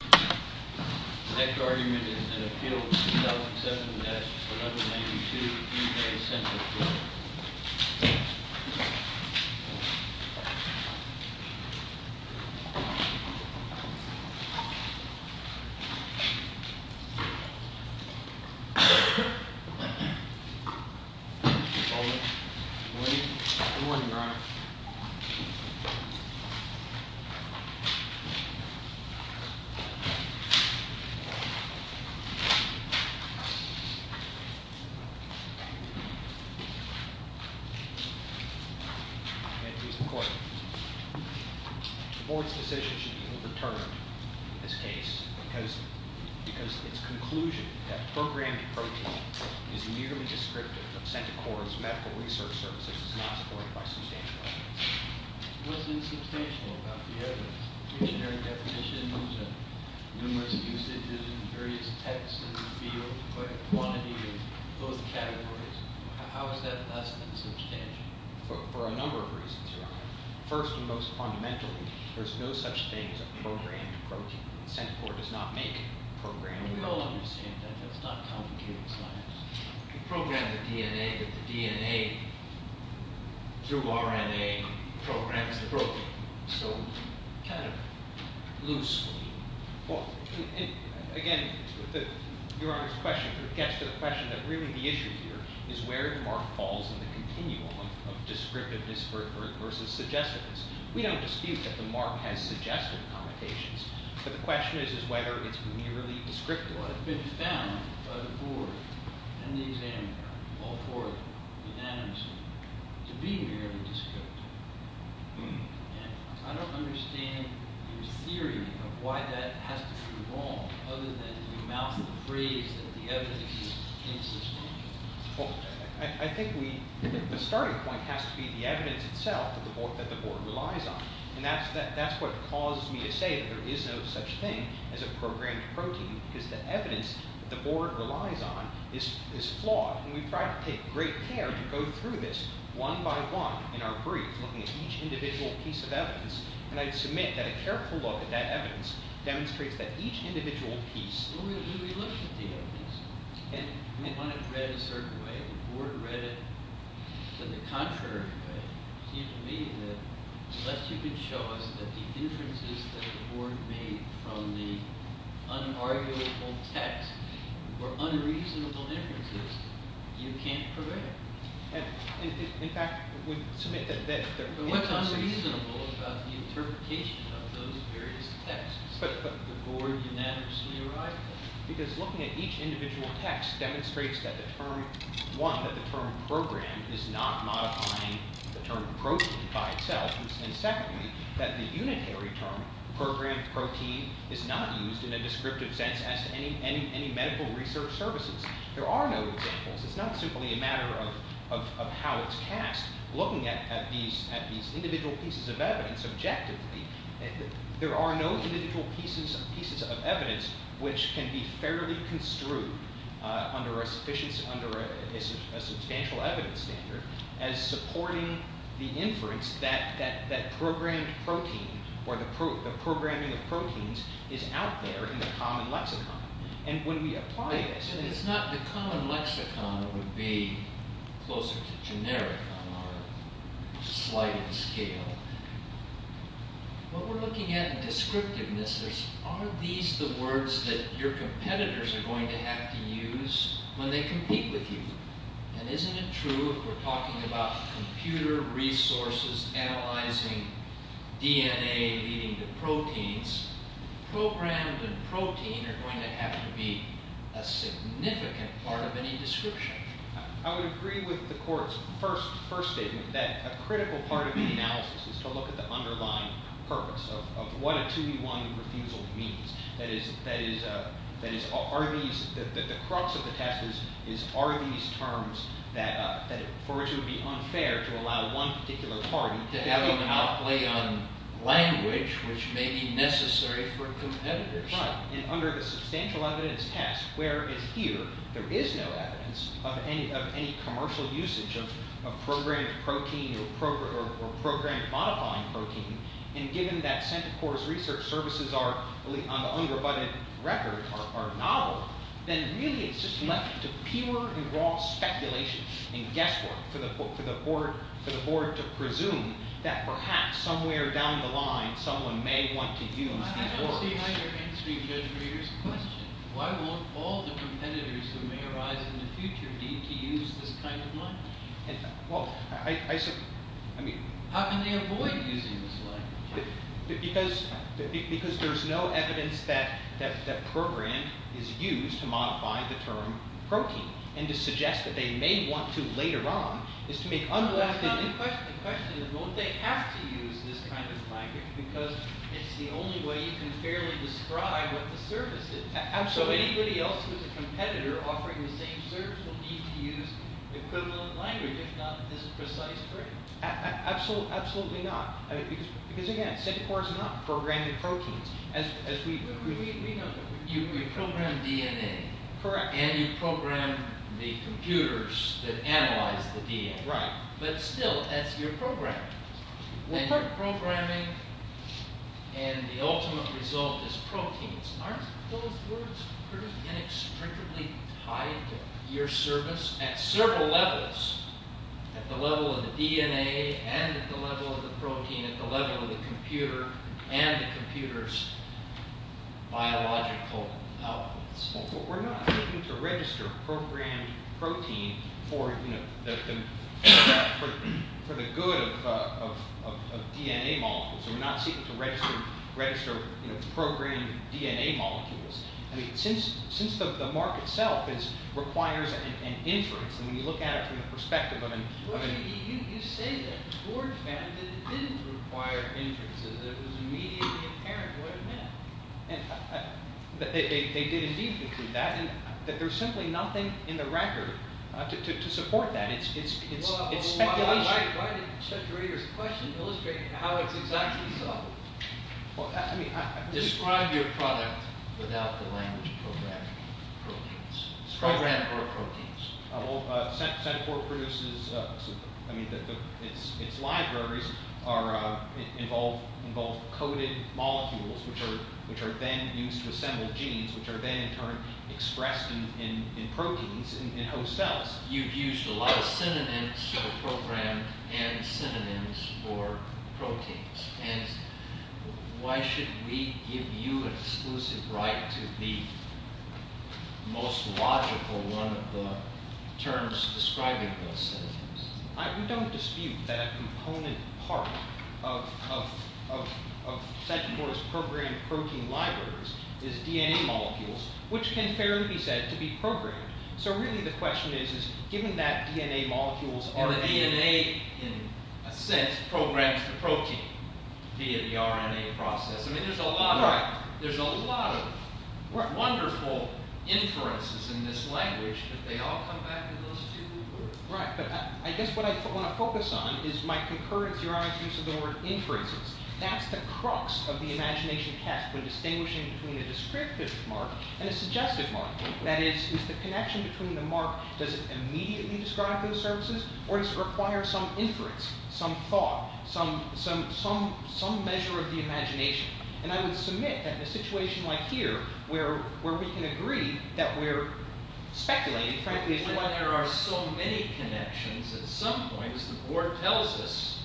The next argument is an appeal to 2007-1992, UK Senate Bill. Good morning, Your Honor. The board's decision should be overturned in this case because its conclusion that programmed protein is nearly descriptive of Centocor's medical research services is not supported by substantial evidence. What's insubstantial about the evidence? Engineering definitions, numerous usages in various texts in the field, but quantity in both categories. How is that less than substantial? For a number of reasons, Your Honor. First and most fundamentally, there's no such thing as a programmed protein. Centocor does not make programmed proteins. We all understand that. That's not complicated science. We program the DNA, but the DNA, through RNA, programs the protein. So, kind of loose. Again, Your Honor's question gets to the question that really the issue here is where the mark falls in the continuum of descriptiveness versus suggestiveness. We don't dispute that the mark has suggestive connotations, but the question is whether it's nearly descriptive. It's been found by the board and the examiner, all four unanimously, to be nearly descriptive. And I don't understand your theory of why that has to be wrong, other than you mouth the phrase that the evidence is insubstantial. Well, I think the starting point has to be the evidence itself that the board relies on. And that's what caused me to say that there is no such thing as a programmed protein, because the evidence that the board relies on is flawed. And we've tried to take great care to go through this one by one in our brief, looking at each individual piece of evidence. And I submit that a careful look at that evidence demonstrates that each individual piece… And we want it read a certain way. If the board read it in the contrary way, it seems to me that unless you can show us that the inferences that the board made from the unarguable text were unreasonable inferences, you can't prevent it. In fact, we submit that… What's unreasonable about the interpretation of those various texts that the board unanimously arrived at? Because looking at each individual text demonstrates that the term… One, that the term programmed is not modifying the term protein by itself. And secondly, that the unitary term programmed protein is not used in a descriptive sense as to any medical research services. There are no examples. It's not simply a matter of how it's cast. Looking at these individual pieces of evidence objectively, there are no individual pieces of evidence which can be fairly construed under a substantial evidence standard as supporting the inference that programmed protein or the programming of proteins is out there in the common lexicon. And when we apply this… If it's not the common lexicon, it would be closer to generic on a slight scale. When we're looking at descriptiveness, are these the words that your competitors are going to have to use when they compete with you? And isn't it true if we're talking about computer resources analyzing DNA leading to proteins, programmed and protein are going to have to be a significant part of any description? I would agree with the court's first statement that a critical part of the analysis is to look at the underlying purpose of what a 2-v-1 refusal means. That is, are these… The crux of the test is, are these terms that for which it would be unfair to allow one particular party… …to have an outlay on language which may be necessary for competitors. Right. And under the substantial evidence test, where it's here, there is no evidence of any commercial usage of programmed protein or programmed modifying protein. And given that CENTCOR's research services on the unrebutted record are novel, then really it's just left to pure and raw speculation and guesswork for the board to presume that perhaps somewhere down the line someone may want to use these words. I don't see how you're answering Judge Reeder's question. Why won't all the competitors who may arise in the future need to use this kind of language? Well, I mean… How can they avoid using this language? Because there's no evidence that programmed is used to modify the term protein. And to suggest that they may want to later on is to make… Well, that's not the question. The question is, won't they have to use this kind of language? Because it's the only way you can fairly describe what the service is. So anybody else who's a competitor offering the same service will need to use the equivalent language, if not this precise term. Absolutely not. Because again, CENTCOR's not programming proteins as we know them. You program DNA. Correct. And you program the computers that analyze the DNA. Right. But still, that's your programming. They're programming, and the ultimate result is proteins. Aren't those words pretty inextricably tied to your service at several levels? At the level of the DNA, and at the level of the protein, at the level of the computer, and the computer's biological outputs. Well, we're not seeking to register programmed protein for the good of DNA molecules. We're not seeking to register programmed DNA molecules. I mean, since the mark itself requires an inference, and when you look at it from the perspective of an… Well, you say that. George Madden didn't require inferences. It was immediately apparent what it meant. They did indeed include that, and there's simply nothing in the record to support that. It's speculation. Why didn't Judge Rader's question illustrate how it's exactly solved? Well, I mean, I… Describe your product without the language programming proteins. Program or proteins. Well, Centifor produces… I mean, its libraries involve coded molecules, which are then used to assemble genes, which are then, in turn, expressed in proteins in host cells. You've used a lot of synonyms for programmed and synonyms for proteins. And why should we give you an exclusive right to be the most logical one of the terms describing those synonyms? We don't dispute that a component part of Centifor's programmed protein libraries is DNA molecules, which can fairly be said to be programmed. So really the question is, is given that DNA molecules are… DNA, in a sense, programs the protein via the RNA process. I mean, there's a lot of… Right. There's a lot of wonderful inferences in this language, but they all come back to those two words. Right. But I guess what I want to focus on is my concurrence to your argument of the word inferences. That's the crux of the imagination test when distinguishing between a descriptive mark and a suggestive mark. That is, is the connection between the mark… Why are some inference, some thought, some measure of the imagination? And I would submit that in a situation like here where we can agree that we're speculating, frankly… But when there are so many connections at some points, the board tells us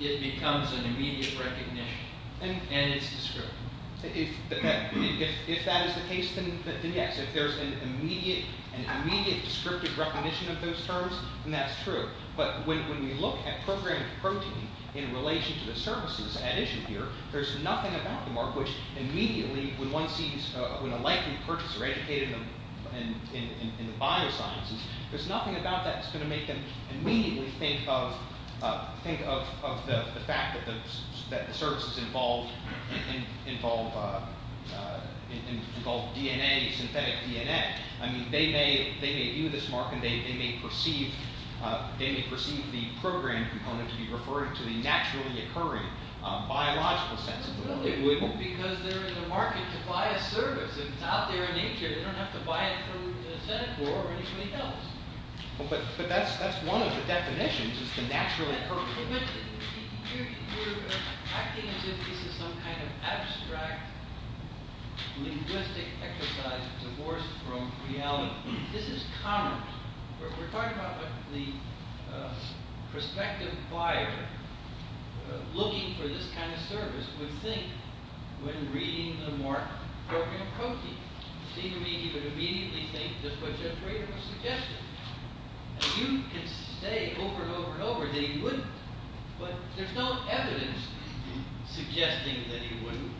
it becomes an immediate recognition. And it's descriptive. If that is the case, then yes. If there's an immediate descriptive recognition of those terms, then that's true. But when we look at programmed protein in relation to the services at issue here, there's nothing about the mark, which immediately when one sees when a likely purchaser educated in the biosciences, there's nothing about that that's going to make them immediately think of the fact that the services involve DNA, synthetic DNA. I mean, they may view this mark and they may perceive the programmed component to be referring to the naturally occurring biological senses. Well, they would because they're in the market to buy a service. It's out there in nature. They don't have to buy it through the Senate or anybody else. You're acting as if this is some kind of abstract linguistic exercise divorced from reality. This is commerce. We're talking about the prospective buyer looking for this kind of service would think when reading the mark, programmed protein. He would immediately think just what Jeff Rader was suggesting. You can say over and over and over that he wouldn't. But there's no evidence suggesting that he wouldn't.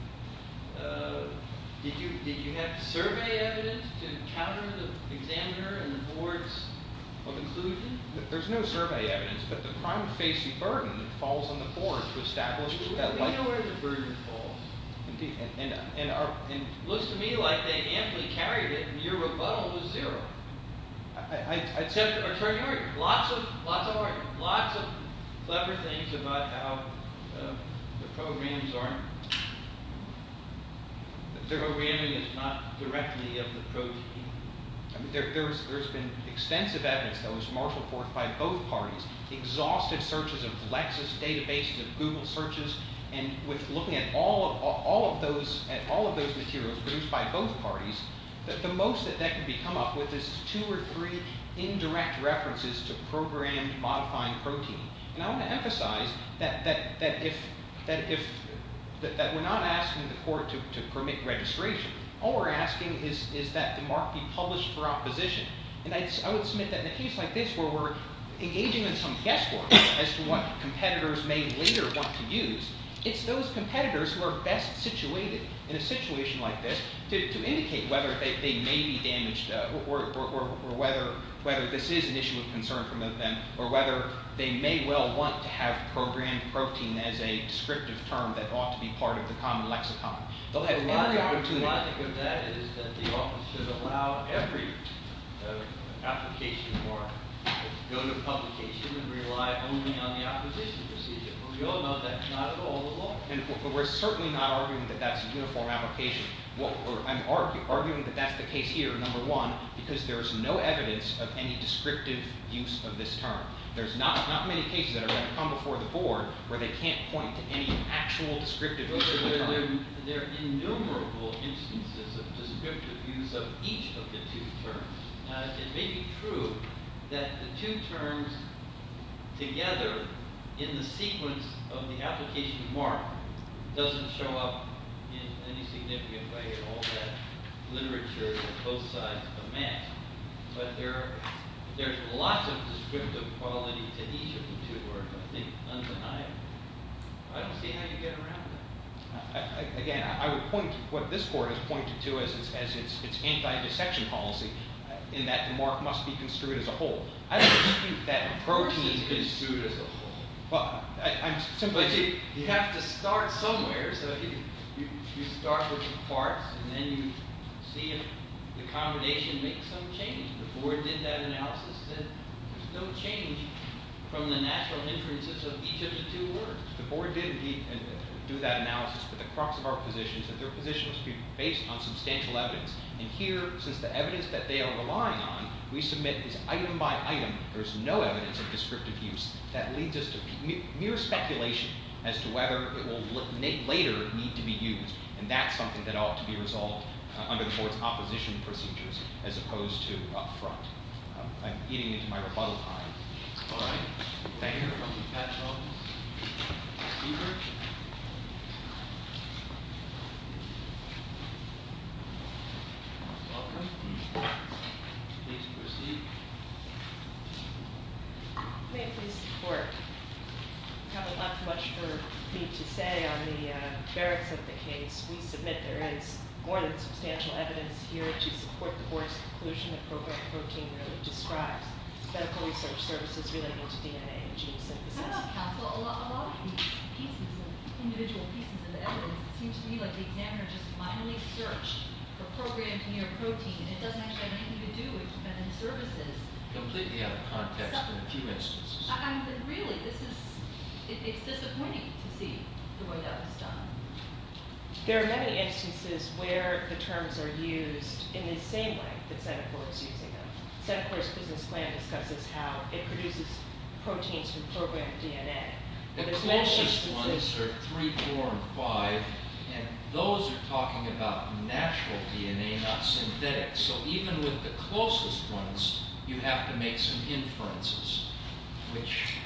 Did you have survey evidence to counter the examiner and the board's conclusion? There's no survey evidence, but the crime facing burden falls on the board to establish that. We know where the burden falls. It looks to me like they amply carried it and your rebuttal was zero. I'd say lots of clever things about how the programs aren't. Zero reality is not directly of the protein. There's been extensive evidence that was marshaled forth by both parties. Exhausted searches of Lexus databases and Google searches and with looking at all of those materials produced by both parties, the most that can be come up with is two or three indirect references to programmed modifying protein. I want to emphasize that we're not asking the court to permit registration. All we're asking is that the mark be published for opposition. I would submit that in a case like this where we're engaging in some guesswork as to what competitors may later want to use, it's those competitors who are best situated in a situation like this to indicate whether they may be damaged or whether this is an issue of concern for them or whether they may well want to have programmed protein as a descriptive term that ought to be part of the common lexicon. The logic of that is that the office should allow every application for it to go to publication and rely only on the opposition procedure. We all know that's not at all the law. We're certainly not arguing that that's a uniform application. I'm arguing that that's the case here, number one, because there's no evidence of any descriptive use of this term. There's not many cases that are going to come before the board where they can't point to any actual descriptive use of the term. There are innumerable instances of descriptive use of each of the two terms. It may be true that the two terms together in the sequence of the application mark doesn't show up in any significant way in all that literature on both sides of the map, but there's lots of descriptive quality to each of the two terms, I think, undeniably. I don't see how you get around that. Again, I would point to what this board has pointed to as its anti-dissection policy in that the mark must be construed as a whole. I don't think that protein is construed as a whole. You have to start somewhere. You start with the parts, and then you see if the combination makes some change. The board did that analysis. There's no change from the natural inferences of each of the two words. The board did, indeed, do that analysis. But the crux of our position is that their position must be based on substantial evidence. And here, since the evidence that they are relying on we submit is item by item, there's no evidence of descriptive use. That leads us to mere speculation as to whether it will later need to be used. And that's something that ought to be resolved under the board's opposition procedures as opposed to up front. I'm eating into my rebuttal time. All right. Thank you. From the Pat Jones. Beaver? Welcome. Please proceed. May I please support? I have a lot too much for me to say on the merits of the case. We submit there is more than substantial evidence here to support the board's conclusion that protein really describes. Medical research services related to DNA and gene synthesis. How about counsel? A lot of these pieces, individual pieces of evidence. It seems to me like the examiner just blindly searched for programs near protein. It doesn't actually have anything to do with services. Completely out of context in a few instances. I'm really, this is, it's disappointing to see the way that was done. There are many instances where the terms are used in the same way that senate board is using them. Senate board's business plan discusses how it produces proteins from programmed DNA. The closest ones are 3, 4, and 5. And those are talking about natural DNA, not synthetic. So even with the closest ones, you have to make some inferences. Which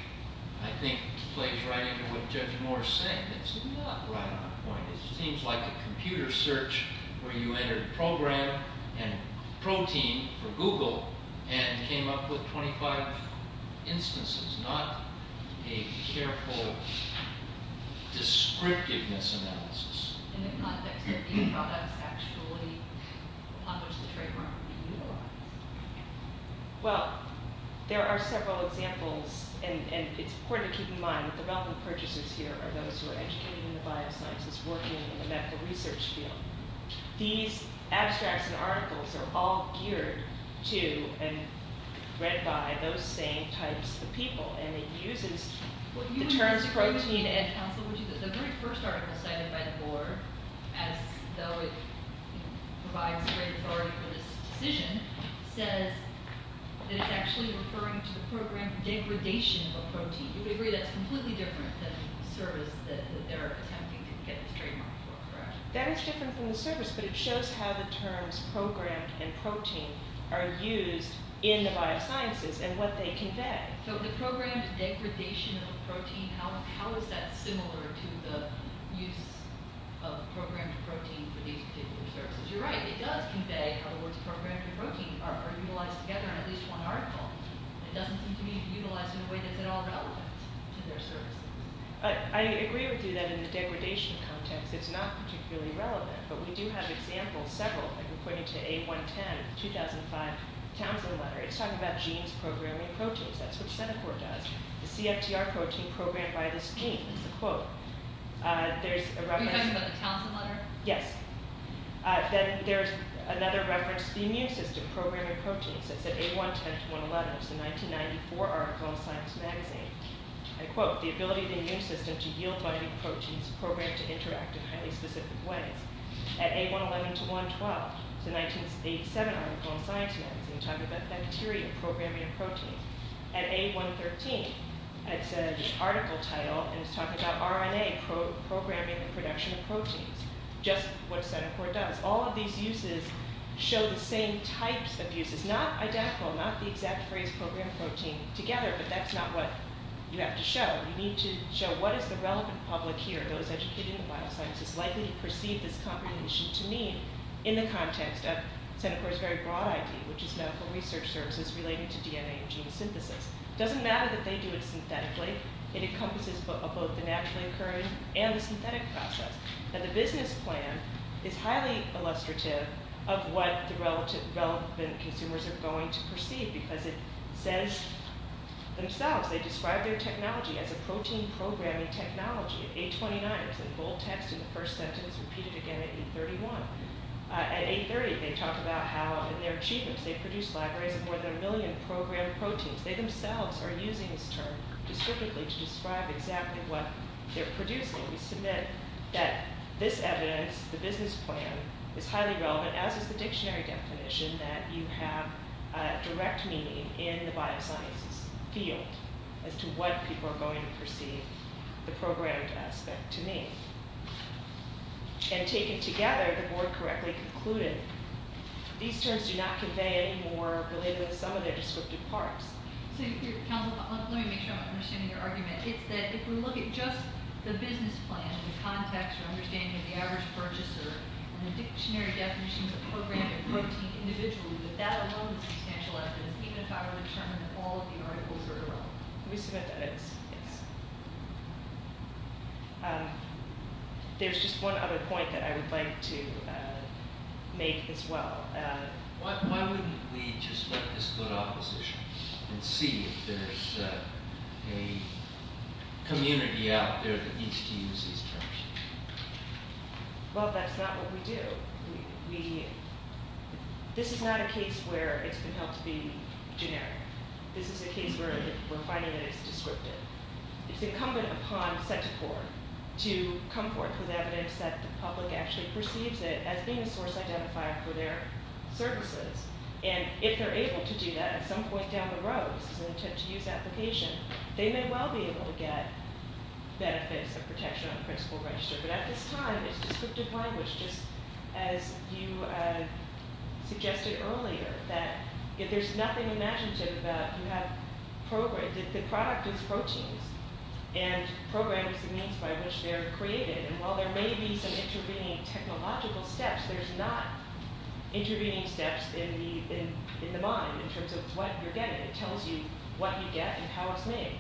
I think plays right into what Judge Moore is saying. It's not right on point. It seems like a computer search where you entered program and protein for Google and came up with 25 instances. Not a careful descriptiveness analysis. In the context of the products actually on which the trademark would be utilized. Well, there are several examples and it's important to keep in mind that the relevant purchasers here are those who are educating the biosciences, working in the medical research field. These abstracts and articles are all geared to and read by those same types of people. And it uses the terms protein. The very first article cited by the board, as though it provides great authority for this decision, says that it's actually referring to the program degradation of a protein. You agree that's completely different than the service that they're attempting to get this trademark for, correct? That is different from the service, but it shows how the terms programmed and protein are used in the biosciences and what they convey. So the programmed degradation of a protein, how is that similar to the use of programmed protein for these particular services? You're right, it does convey how the words programmed and protein are utilized together in at least one article. It doesn't seem to be utilized in a way that's at all relevant to their services. I agree with you that in the degradation context it's not particularly relevant, but we do have examples, several, like according to A110 of the 2005 Townsend letter. It's talking about genes programming proteins. That's what Cetacor does. The CFTR protein programmed by this gene is a quote. Are you talking about the Townsend letter? Yes. Then there's another reference, the immune system programming proteins. It's at A110 to 111. It's a 1994 article in Science Magazine. I quote, the ability of the immune system to yield binding proteins programmed to interact in highly specific ways. At A111 to 112, it's a 1987 article in Science Magazine talking about bacteria programming a protein. At A113, it's an article title, and it's talking about RNA programming the production of proteins. Just what Cetacor does. All of these uses show the same types of uses. Not identical, not the exact phrase programmed protein together, but that's not what you have to show. You need to show what is the relevant public here, those educated in bioscience, is likely to perceive this combination to mean in the context of Cetacor's very broad idea, which is medical research services relating to DNA and gene synthesis. It doesn't matter that they do it synthetically. It encompasses both the naturally occurring and the synthetic process. And the business plan is highly illustrative of what the relevant consumers are going to perceive because it says themselves, they describe their technology as a protein programming technology. At A29, it's in bold text in the first sentence, repeated again at A31. At A30, they talk about how in their achievements, they've produced libraries of more than a million programmed proteins. They themselves are using this term descriptively to describe exactly what they're producing. We submit that this evidence, the business plan, is highly relevant, as is the dictionary definition, that you have a direct meaning in the biosciences field as to what people are going to perceive the programmed aspect to mean. And taken together, the board correctly concluded these terms do not convey any more related to some of their descriptive parts. So, counsel, let me make sure I'm understanding your argument. It's that if we look at just the business plan, the context, or understanding of the average purchaser, and the dictionary definitions of programmed protein individually, that that alone is substantial evidence, even if I were to determine that all of the articles were erroneous. We submit that it's – there's just one other point that I would like to make as well. Why wouldn't we just let this go to opposition and see if there's a community out there that needs to use these terms? Well, that's not what we do. We – this is not a case where it's compelled to be generic. This is a case where we're finding that it's descriptive. It's incumbent upon set to court to come forth with evidence that the public actually perceives it as being a source identified for their services. And if they're able to do that, at some point down the road, as an attempt to use application, they may well be able to get benefits of protection on principal register. But at this time, it's descriptive language, just as you suggested earlier, that if there's nothing imaginative about you have – the product is proteins, and programming is the means by which they're created. And while there may be some intervening technological steps, there's not intervening steps in the mind in terms of what you're getting. It tells you what you get and how it's made.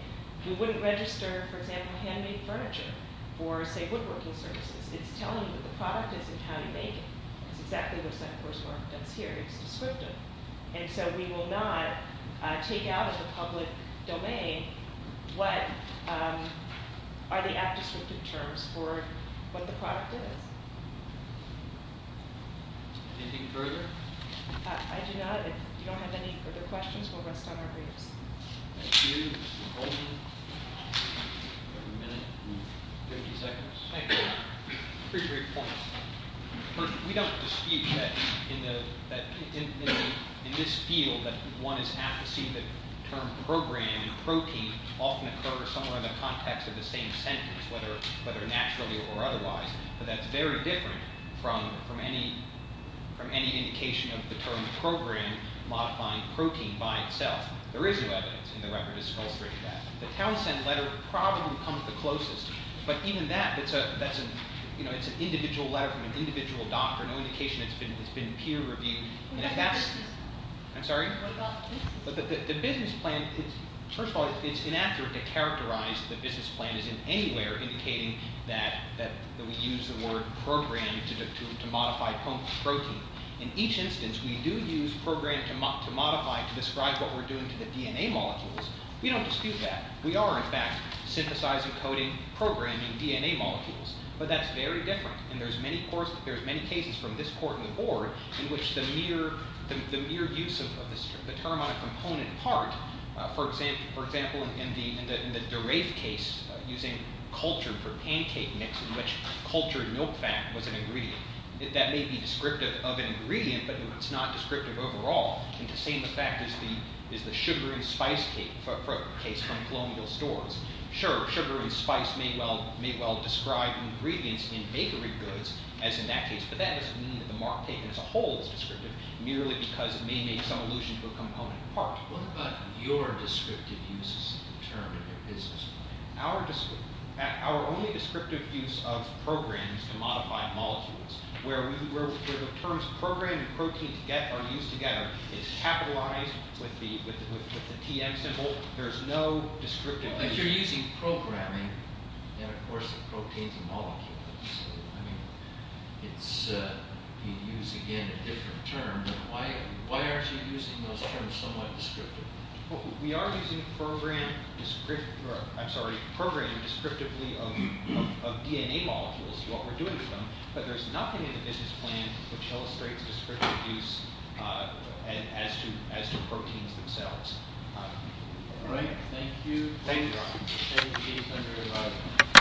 You wouldn't register, for example, handmade furniture for, say, woodworking services. It's telling you that the product isn't how you make it. It's exactly what set to court's work does here. It's descriptive. And so we will not take out of the public domain what are the apt descriptive terms for what the product is. Anything further? I do not. If you don't have any further questions, we'll rest on our briefs. Thank you. Mr. Goldman? Do we have a minute? Fifty seconds? Thank you. Appreciate your points. We don't dispute that in this field that one is apt to see the term program and protein often occur somewhere in the context of the same sentence, whether naturally or otherwise. But that's very different from any indication of the term program modifying protein by itself. There is no evidence, and the record has illustrated that. The Townsend letter probably comes the closest. But even that, it's an individual letter from an individual doctor. No indication it's been peer reviewed. What about the business plan? I'm sorry? What about the business plan? The business plan, first of all, it's inaccurate to characterize the business plan as in any way indicating that we use the word program to modify protein. In each instance, we do use program to modify to describe what we're doing to the DNA molecules. We don't dispute that. We are, in fact, synthesizing, coding, programming DNA molecules. But that's very different, and there's many cases from this court and the board in which the mere use of the term on a component part, for example, in the DeRafe case using cultured for pancake mix in which cultured milk fat was an ingredient, that may be descriptive of an ingredient, but it's not descriptive overall. And the same effect is the sugar and spice case from colonial stores. Sure, sugar and spice may well describe ingredients in bakery goods, as in that case, but that doesn't mean that the mark taken as a whole is descriptive, merely because it may make some allusion to a component part. What about your descriptive uses of the term in your business plan? Our only descriptive use of program is to modify molecules, where the terms program and protein are used together. It's capitalized with the TM symbol. There's no descriptive use. If you're using programming, then, of course, the protein's a molecule. So, I mean, you'd use, again, a different term. Why aren't you using those terms somewhat descriptively? We are using program descriptively of DNA molecules, what we're doing with them, but there's nothing in the business plan which illustrates descriptive use as to proteins themselves. All right. Thank you.